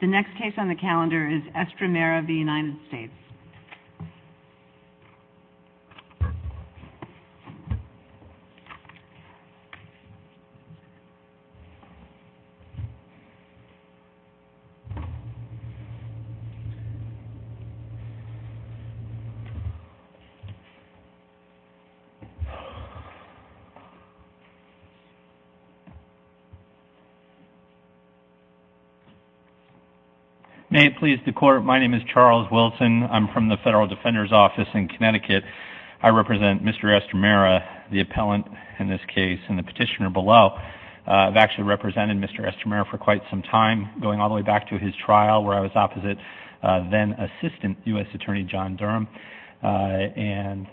The next case on the calendar is Estremera v. United States. May it please the court, my name is Charles Wilson. I'm from the Federal Defender's Office in Connecticut. I represent Mr. Estremera, the appellant in this case, and the petitioner below. I've actually represented Mr. Estremera for quite some time, going all the way back to his trial where I was opposite then-assistant U.S. Attorney John Durham. And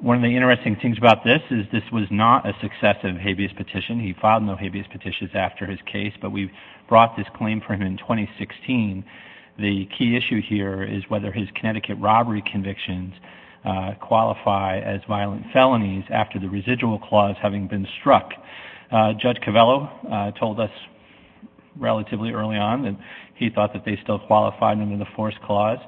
one of the interesting things about this is this was not a successive habeas petition. He filed no habeas petitions after his case, but we brought this claim for him in 2016. The key issue here is whether his Connecticut robbery convictions qualify as violent felonies after the residual clause having been struck. Judge Covello told us relatively early on that he thought that they still qualified under the forced clause.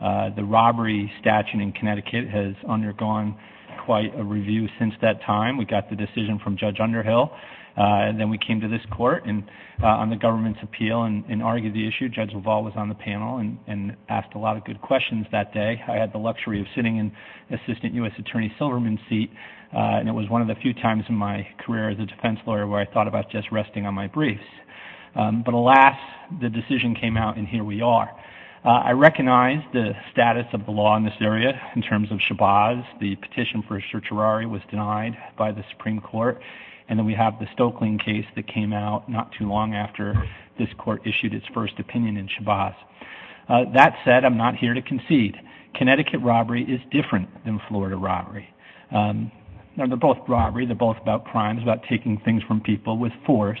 The robbery statute in Connecticut has undergone quite a review since that time. We got the decision from Judge Underhill, and then we came to this court on the government's appeal and argued the issue. Judge Leval was on the panel and asked a lot of good questions that day. I had the luxury of sitting in Assistant U.S. Attorney Silverman's seat, and it was one of the few times in my career as a defense lawyer where I thought about just resting on my briefs. But alas, the decision came out, and here we are. I recognize the status of the law in this area in terms of Shabazz. The petition for certiorari was denied by the Supreme Court, and then we have the Stokelyne case that came out not too long after this court issued its first opinion in Shabazz. That said, I'm not here to concede. Connecticut robbery is different than Florida robbery. They're both robbery. They're both about crimes, about taking things from people with force,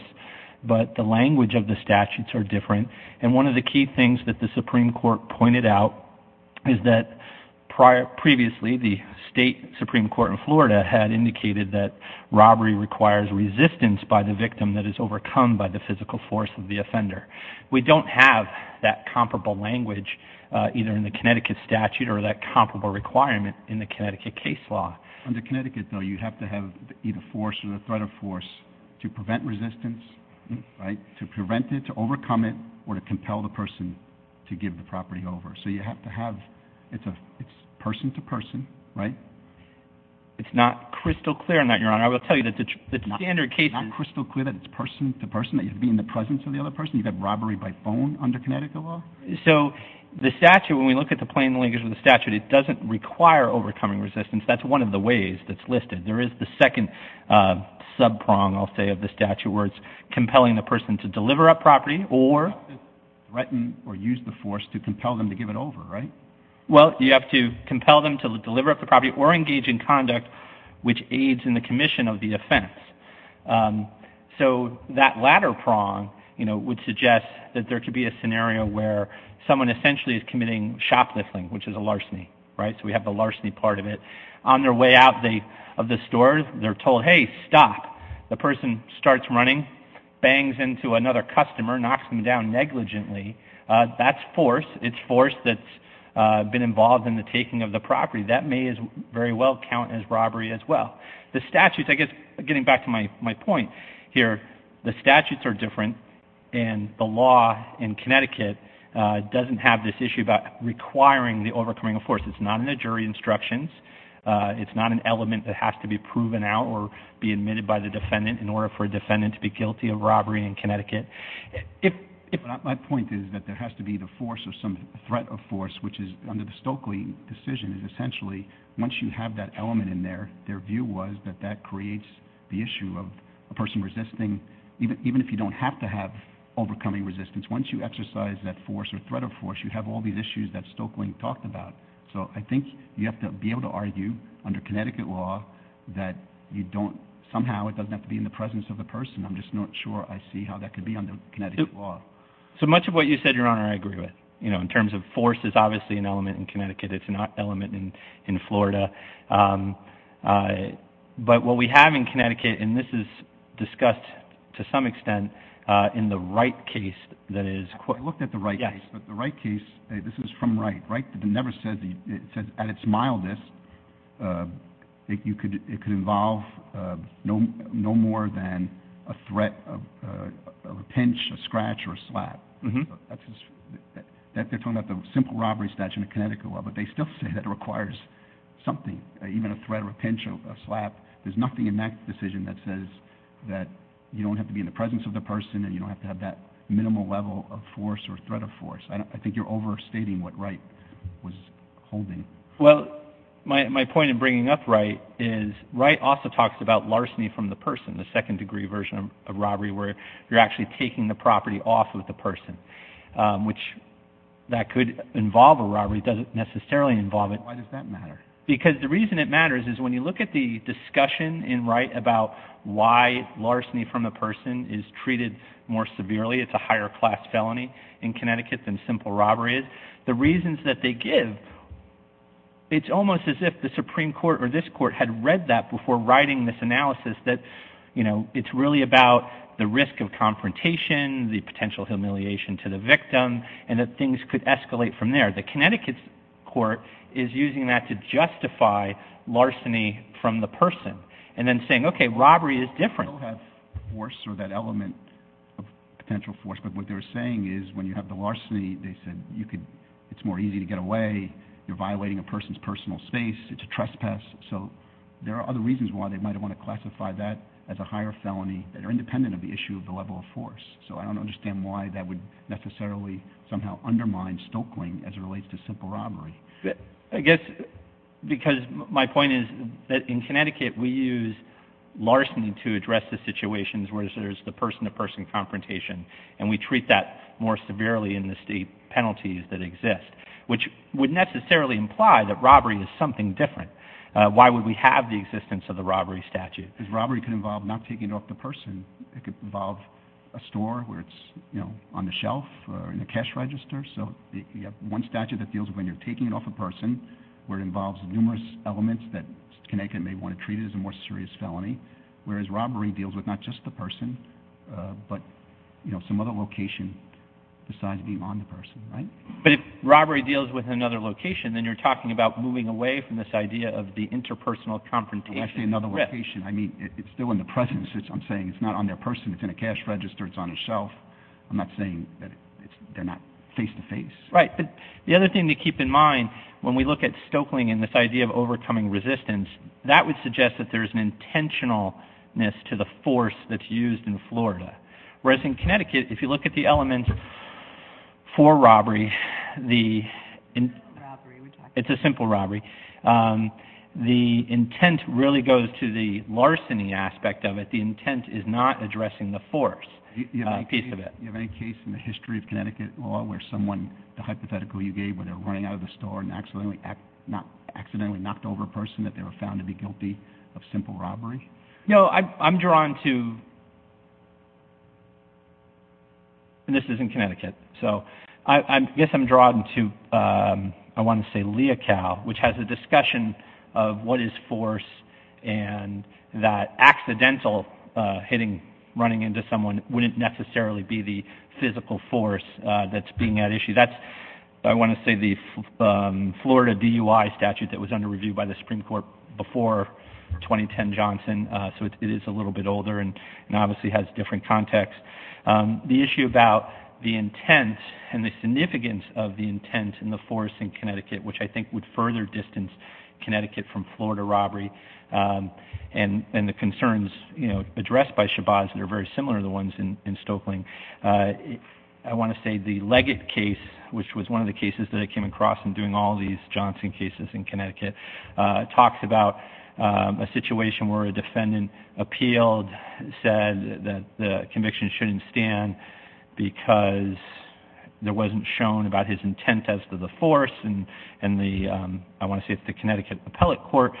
but the language of the statutes are different. And one of the key things that the Supreme Court pointed out is that previously the state Supreme Court in Florida had indicated that robbery requires resistance by the victim that is overcome by the physical force of the offender. We don't have that comparable language either in the Connecticut statute or that comparable requirement in the Connecticut case law. Under Connecticut, though, you have to have either force or the threat of force to prevent resistance, to prevent it, to overcome it, or to compel the person to give the property over. So you have to have – it's person-to-person, right? It's not crystal clear on that, Your Honor. I will tell you that the standard case – It's not crystal clear that it's person-to-person, that you have to be in the presence of the other person? You have robbery by phone under Connecticut law? So the statute, when we look at the plain language of the statute, it doesn't require overcoming resistance. That's one of the ways that's listed. There is the second sub-prong, I'll say, of the statute where it's compelling the person to deliver up property or – Threaten or use the force to compel them to give it over, right? Well, you have to compel them to deliver up the property or engage in conduct which aids in the commission of the offense. So that latter prong would suggest that there could be a scenario where someone essentially is committing shoplifting, which is a larceny, right? So we have the larceny part of it. On their way out of the store, they're told, hey, stop. The person starts running, bangs into another customer, knocks them down negligently. That's force. It's force that's been involved in the taking of the property. That may very well count as robbery as well. The statutes, I guess getting back to my point here, the statutes are different, and the law in Connecticut doesn't have this issue about requiring the overcoming of force. It's not in the jury instructions. It's not an element that has to be proven out or be admitted by the defendant in order for a defendant to be guilty of robbery in Connecticut. My point is that there has to be the force or some threat of force, which is under the Stokely decision, is essentially once you have that element in there, their view was that that creates the issue of a person resisting. Even if you don't have to have overcoming resistance, once you exercise that force or threat of force, you have all these issues that Stokely talked about. So I think you have to be able to argue under Connecticut law that somehow it doesn't have to be in the presence of the person. I'm just not sure I see how that could be under Connecticut law. So much of what you said, Your Honor, I agree with. In terms of force, it's obviously an element in Connecticut. It's not an element in Florida. But what we have in Connecticut, and this is discussed to some extent in the Wright case. I looked at the Wright case. The Wright case, this is from Wright. Wright never said, at its mildest, it could involve no more than a threat of a pinch, a scratch, or a slap. They're talking about the simple robbery statute in Connecticut law, but they still say that it requires something, even a threat of a pinch or a slap. There's nothing in that decision that says that you don't have to be in the presence of the person and you don't have to have that minimal level of force or threat of force. I think you're overstating what Wright was holding. Well, my point in bringing up Wright is Wright also talks about larceny from the person, the second-degree version of robbery where you're actually taking the property off of the person, which that could involve a robbery. It doesn't necessarily involve it. Why does that matter? Because the reason it matters is when you look at the discussion in Wright about why larceny from a person is treated more severely, it's a higher-class felony in Connecticut than simple robbery is, the reasons that they give, it's almost as if the Supreme Court or this court had read that before writing this analysis that, you know, it's really about the risk of confrontation, the potential humiliation to the victim, and that things could escalate from there. The Connecticut court is using that to justify larceny from the person and then saying, okay, robbery is different. You don't have force or that element of potential force, but what they're saying is when you have the larceny, they said it's more easy to get away. You're violating a person's personal space. It's a trespass. So there are other reasons why they might want to classify that as a higher felony that are independent of the issue of the level of force. So I don't understand why that would necessarily somehow undermine Stokeling as it relates to simple robbery. I guess because my point is that in Connecticut we use larceny to address the situations where there's the person-to-person confrontation, and we treat that more severely in the state penalties that exist, which would necessarily imply that robbery is something different. Why would we have the existence of the robbery statute? Because robbery could involve not taking it off the person. It could involve a store where it's on the shelf or in the cash register. So you have one statute that deals with when you're taking it off a person where it involves numerous elements that Connecticut may want to treat it as a more serious felony, whereas robbery deals with not just the person but some other location besides being on the person. But if robbery deals with another location, then you're talking about moving away from this idea of the interpersonal confrontation. When I say another location, I mean it's still in the presence. I'm saying it's not on their person. It's in a cash register. It's on a shelf. I'm not saying that they're not face-to-face. Right, but the other thing to keep in mind when we look at Stokeling and this idea of overcoming resistance, that would suggest that there's an intentionalness to the force that's used in Florida, whereas in Connecticut, if you look at the elements for robbery, it's a simple robbery. The intent really goes to the larceny aspect of it. The intent is not addressing the force piece of it. Do you have any case in the history of Connecticut law where someone, the hypothetical you gave, where they're running out of the store and accidentally knocked over a person that they were found to be guilty of simple robbery? No, I'm drawn to, and this is in Connecticut, so I guess I'm drawn to, I want to say, Leocal, which has a discussion of what is force and that accidental hitting, running into someone, wouldn't necessarily be the physical force that's being at issue. That's, I want to say, the Florida DUI statute that was under review by the Supreme Court before 2010 Johnson, so it is a little bit older and obviously has different context. The issue about the intent and the significance of the intent and the force in Connecticut, which I think would further distance Connecticut from Florida robbery and the concerns addressed by Shabazz that are very similar to the ones in Stokeling. I want to say the Leggett case, which was one of the cases that I came across in doing all these Johnson cases in Connecticut, talks about a situation where a defendant appealed, said that the conviction shouldn't stand because there wasn't shown about his intent as to the force, and the, I want to say it's the Connecticut Appellate Court,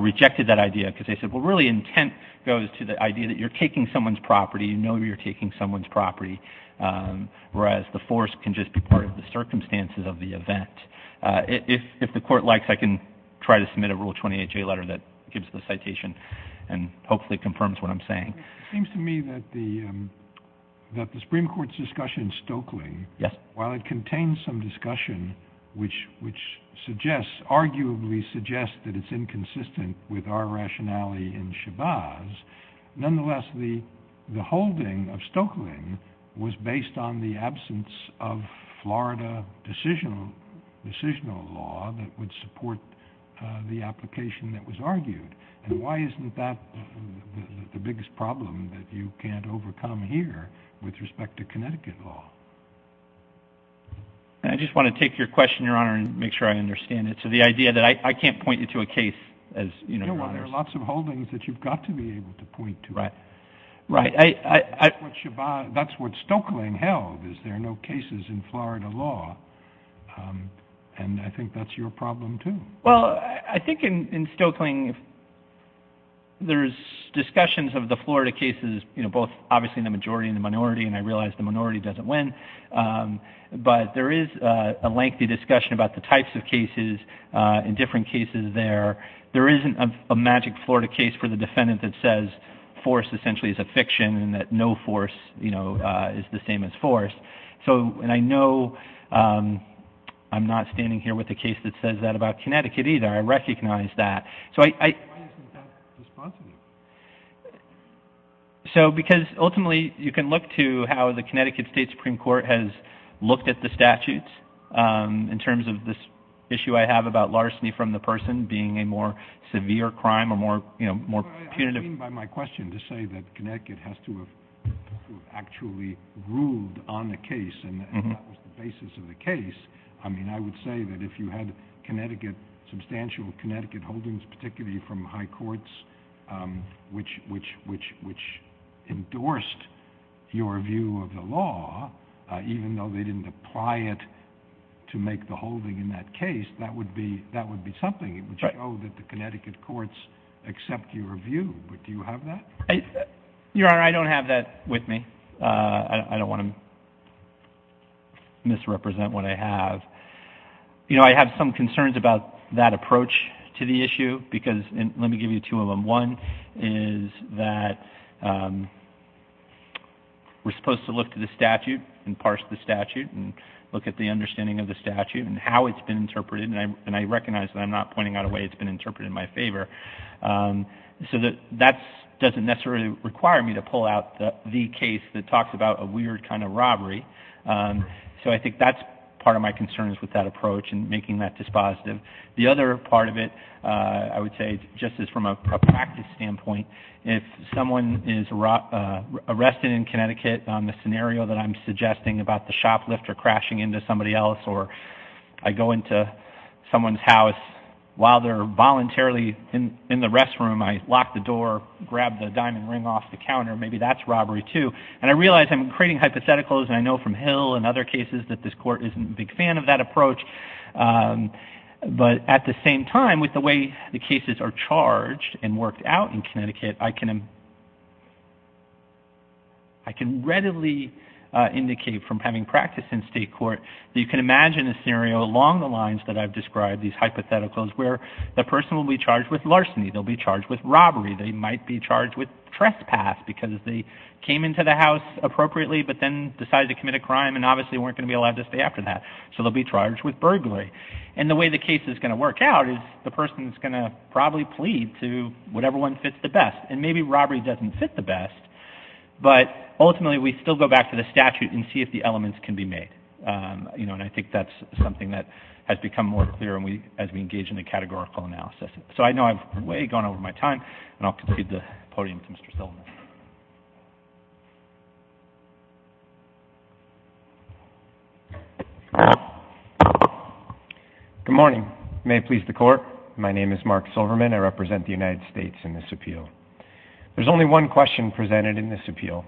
rejected that idea because they said, well, really intent goes to the idea that you're taking someone's property, you know you're taking someone's property, whereas the force can just be part of the circumstances of the event. If the court likes, I can try to submit a Rule 28J letter that gives the citation and hopefully confirms what I'm saying. It seems to me that the Supreme Court's discussion in Stokeling, while it contains some discussion which suggests, arguably suggests that it's inconsistent with our rationality in Shabazz, nonetheless, the holding of Stokeling was based on the absence of Florida decisional law that would support the application that was argued. And why isn't that the biggest problem that you can't overcome here with respect to Connecticut law? I just want to take your question, Your Honor, and make sure I understand it. So the idea that I can't point you to a case as, you know, there are lots of holdings that you've got to be able to point to. Right. That's what Stokeling held, is there are no cases in Florida law. And I think that's your problem, too. Well, I think in Stokeling, there's discussions of the Florida cases, you know, both obviously in the majority and the minority, and I realize the minority doesn't win, but there is a lengthy discussion about the types of cases and different cases there. There isn't a magic Florida case for the defendant that says force essentially is a fiction and that no force, you know, is the same as force. And I know I'm not standing here with a case that says that about Connecticut either. I recognize that. Why isn't that responsible? So because ultimately you can look to how the Connecticut State Supreme Court has looked at the statutes in terms of this issue I have about larceny from the person being a more severe crime or, you know, more punitive. I mean by my question to say that Connecticut has to have actually ruled on the case and that was the basis of the case. I mean, I would say that if you had Connecticut, substantial Connecticut holdings, particularly from high courts, which endorsed your view of the law, even though they didn't apply it to make the holding in that case, that would be something. It would show that the Connecticut courts accept your view. Do you have that? Your Honor, I don't have that with me. I don't want to misrepresent what I have. You know, I have some concerns about that approach to the issue because let me give you two of them. One is that we're supposed to look to the statute and parse the statute and look at the understanding of the statute and how it's been interpreted, and I recognize that I'm not pointing out a way it's been interpreted in my favor. So that doesn't necessarily require me to pull out the case that talks about a weird kind of robbery. So I think that's part of my concerns with that approach and making that dispositive. The other part of it, I would say, just as from a practice standpoint, if someone is arrested in Connecticut on the scenario that I'm suggesting about the shoplifter crashing into somebody else or I go into someone's house, while they're voluntarily in the restroom, I lock the door, grab the diamond ring off the counter, maybe that's robbery too. And I realize I'm creating hypotheticals, and I know from Hill and other cases that this court isn't a big fan of that approach, but at the same time, with the way the cases are charged and worked out in Connecticut, I can readily indicate from having practiced in state court that you can imagine a scenario along the lines that I've described, these hypotheticals, where the person will be charged with larceny, they'll be charged with robbery, they might be charged with trespass because they came into the house appropriately but then decided to commit a crime and obviously weren't going to be allowed to stay after that. So they'll be charged with burglary. And the way the case is going to work out is the person is going to probably plead to whatever one fits the best. And maybe robbery doesn't fit the best, but ultimately we still go back to the statute and see if the elements can be made. And I think that's something that has become more clear as we engage in a categorical analysis. So I know I've way gone over my time, and I'll concede the podium to Mr. Stillman. Good morning. May it please the Court. My name is Mark Silverman. I represent the United States in this appeal. There's only one question presented in this appeal,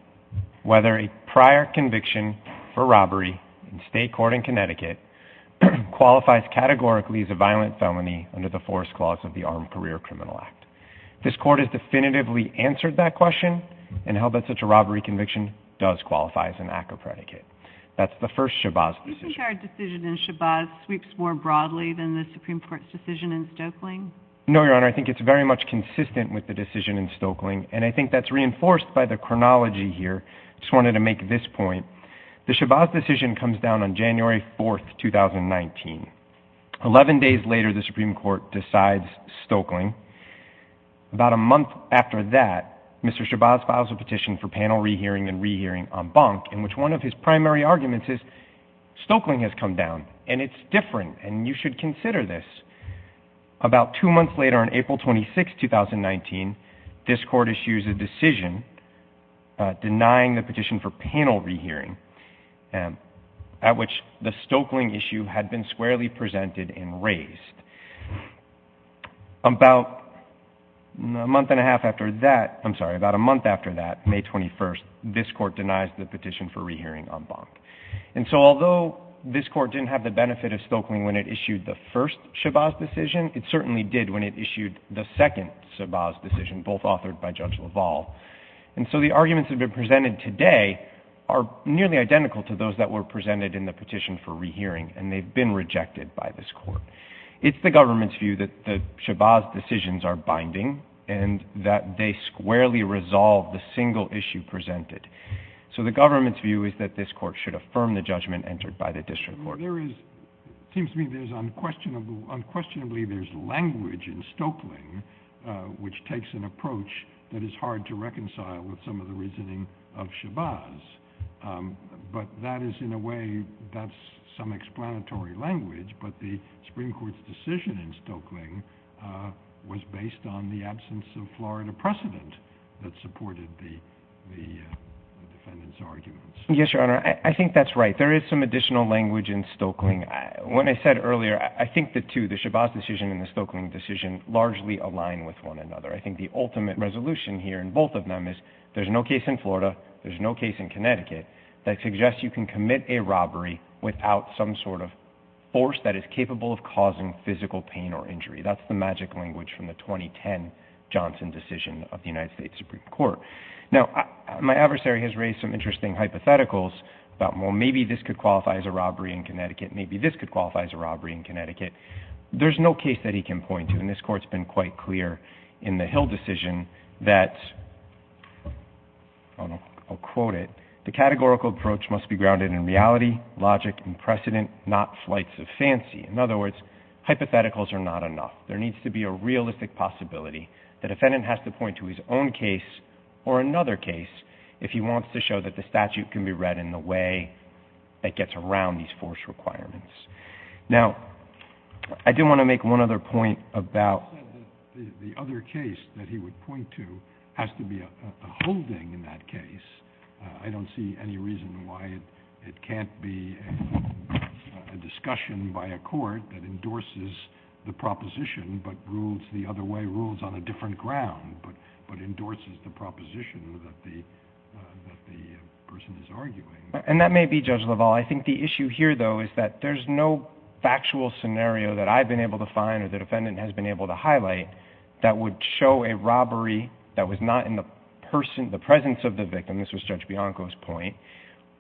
whether a prior conviction for robbery in state court in Connecticut qualifies categorically as a violent felony under the Force Clause of the Armed Career Criminal Act. If this Court has definitively answered that question, and held that such a robbery conviction does qualify as an act of predicate. That's the first Shabazz decision. Do you think our decision in Shabazz sweeps more broadly than the Supreme Court's decision in Stokeling? No, Your Honor, I think it's very much consistent with the decision in Stokeling, and I think that's reinforced by the chronology here. I just wanted to make this point. The Shabazz decision comes down on January 4, 2019. Eleven days later, the Supreme Court decides Stokeling. About a month after that, Mr. Shabazz files a petition for panel rehearing and rehearing en banc, in which one of his primary arguments is Stokeling has come down, and it's different, and you should consider this. About two months later, on April 26, 2019, this Court issues a decision denying the petition for panel rehearing, at which the Stokeling issue had been squarely presented and raised. About a month and a half after that, I'm sorry, about a month after that, May 21, this Court denies the petition for rehearing en banc. And so although this Court didn't have the benefit of Stokeling when it issued the first Shabazz decision, it certainly did when it issued the second Shabazz decision, both authored by Judge LaValle. And so the arguments that have been presented today are nearly identical to those that were presented in the petition for rehearing, and they've been rejected by this Court. It's the government's view that the Shabazz decisions are binding and that they squarely resolve the single issue presented. So the government's view is that this Court should affirm the judgment entered by the district court. It seems to me there's unquestionably language in Stokeling which takes an approach that is hard to reconcile with some of the reasoning of Shabazz. But that is, in a way, that's some explanatory language, but the Supreme Court's decision in Stokeling was based on the absence of Florida precedent that supported the defendant's arguments. Yes, Your Honor, I think that's right. There is some additional language in Stokeling. When I said earlier, I think the two, the Shabazz decision and the Stokeling decision, largely align with one another. I think the ultimate resolution here in both of them is there's no case in Florida, there's no case in Connecticut, that suggests you can commit a robbery without some sort of force that is capable of causing physical pain or injury. That's the magic language from the 2010 Johnson decision of the United States Supreme Court. Now, my adversary has raised some interesting hypotheticals about, well, maybe this could qualify as a robbery in Connecticut, maybe this could qualify as a robbery in Connecticut. There's no case that he can point to, and this Court's been quite clear in the Hill decision that, and I'll quote it, the categorical approach must be grounded in reality, logic, and precedent, not flights of fancy. In other words, hypotheticals are not enough. There needs to be a realistic possibility. The defendant has to point to his own case or another case if he wants to show that the statute can be read in the way that gets around these force requirements. Now, I did want to make one other point about... There has to be a holding in that case. I don't see any reason why it can't be a discussion by a court that endorses the proposition but rules the other way, rules on a different ground, but endorses the proposition that the person is arguing. And that may be, Judge LaValle. I think the issue here, though, is that there's no factual scenario that would show a robbery that was not in the presence of the victim, this was Judge Bianco's point,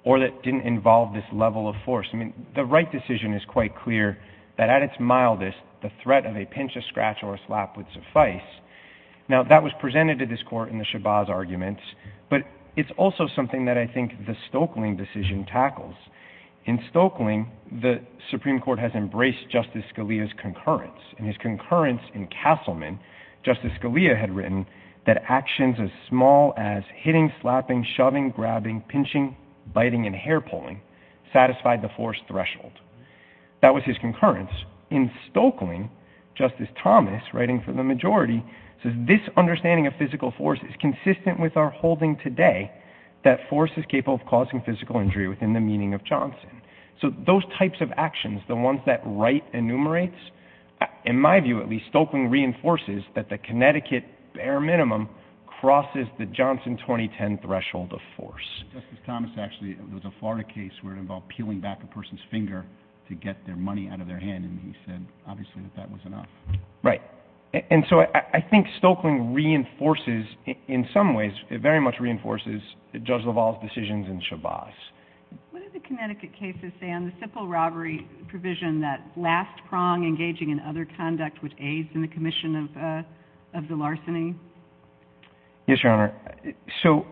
or that didn't involve this level of force. I mean, the Wright decision is quite clear that, at its mildest, the threat of a pinch, a scratch, or a slap would suffice. Now, that was presented to this Court in the Shabazz arguments, but it's also something that I think the Stokeling decision tackles. In Stokeling, the Supreme Court has embraced Justice Scalia's concurrence, and his concurrence in Castleman, Justice Scalia had written that actions as small as hitting, slapping, shoving, grabbing, pinching, biting, and hair-pulling satisfied the force threshold. That was his concurrence. In Stokeling, Justice Thomas, writing for the majority, says this understanding of physical force is consistent with our holding today that force is capable of causing physical injury within the meaning of Johnson. So those types of actions, the ones that Wright enumerates, in my view, at least, Stokeling reinforces that the Connecticut bare minimum crosses the Johnson 2010 threshold of force. Justice Thomas, actually, there was a Florida case where it involved peeling back a person's finger to get their money out of their hand, and he said, obviously, that that was enough. Right. And so I think Stokeling reinforces, in some ways, it very much reinforces Judge LaValle's decisions in Shabazz. What do the Connecticut cases say on the simple robbery provision that last prong engaging in other conduct would aid in the commission of the larceny? Yes, Your Honor. So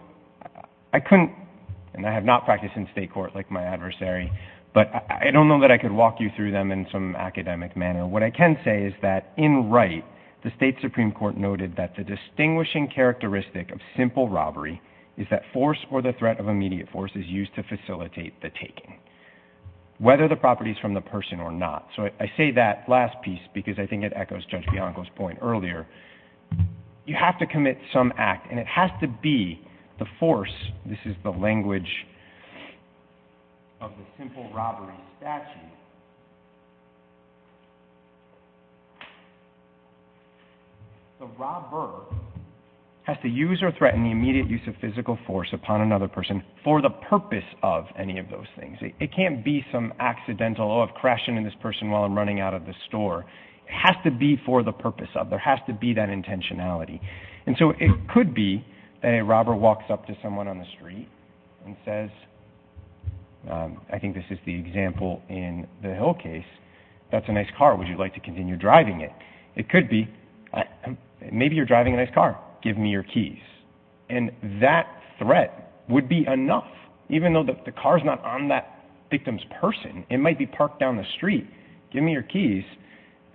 I couldn't, and I have not practiced in state court like my adversary, but I don't know that I could walk you through them in some academic manner. What I can say is that in Wright, the state Supreme Court noted that the distinguishing characteristic of simple robbery is that force or the threat of immediate force is used to facilitate the taking, whether the property is from the person or not. So I say that last piece because I think it echoes Judge Bianco's point earlier. You have to commit some act, and it has to be the force. This is the language of the simple robbery statute. The robber has to use or threaten the immediate use of physical force upon another person for the purpose of any of those things. It can't be some accidental, oh, I've crashed into this person while I'm running out of the store. It has to be for the purpose of. There has to be that intentionality. And so it could be that a robber walks up to someone on the street and says, I think this is the example in the Hill case, that's a nice car. Would you like to continue driving it? It could be, maybe you're driving a nice car. Give me your keys. And that threat would be enough, even though the car is not on that victim's person. It might be parked down the street. Give me your keys.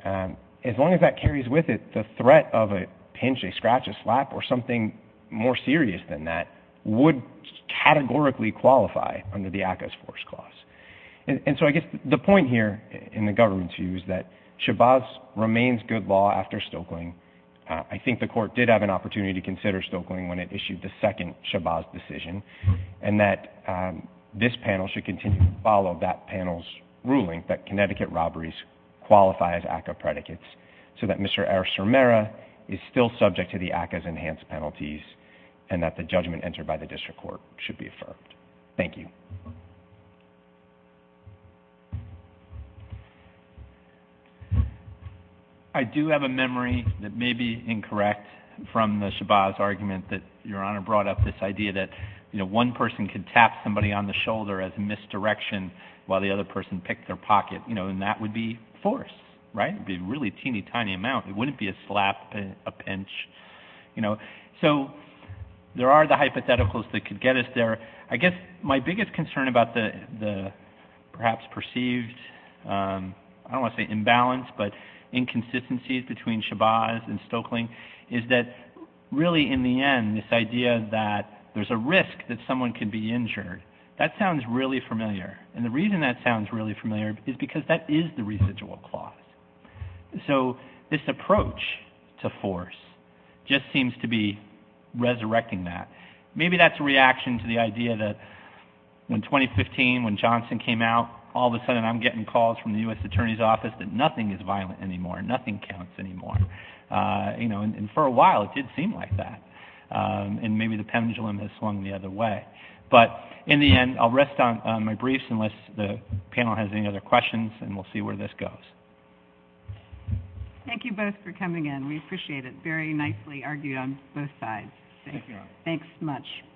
As long as that carries with it, the threat of a pinch, a scratch, a slap, or something more serious than that would categorically qualify under the ACCA's force clause. And so I guess the point here in the government's view is that Chabaz remains good law after Stoeckling. I think the court did have an opportunity to consider Stoeckling when it issued the second Chabaz decision, and that this panel should continue to follow that panel's ruling that Connecticut robberies qualify as ACCA predicates so that Mr. R. Cermera is still subject to the ACCA's enhanced penalties and that the judgment entered by the district court should be affirmed. Thank you. I do have a memory that may be incorrect from the Chabaz argument that Your Honor brought up this idea that one person could tap somebody on the shoulder as misdirection while the other person picked their pocket, and that would be force, right? It would be a really teeny-tiny amount. It wouldn't be a slap, a pinch. So there are the hypotheticals that could get us there. I guess my biggest concern is the fact that the concern about the perhaps perceived, I don't want to say imbalance, but inconsistencies between Chabaz and Stoeckling is that really in the end this idea that there's a risk that someone could be injured, that sounds really familiar. And the reason that sounds really familiar is because that is the residual clause. So this approach to force just seems to be resurrecting that. Maybe that's a reaction to the idea that in 2015 when Johnson came out, all of a sudden I'm getting calls from the U.S. Attorney's Office that nothing is violent anymore, nothing counts anymore. And for a while it did seem like that. And maybe the pendulum has swung the other way. But in the end, I'll rest on my briefs unless the panel has any other questions, and we'll see where this goes. Thank you both for coming in. We appreciate it. Very nicely argued on both sides. Thank you. Thanks so much.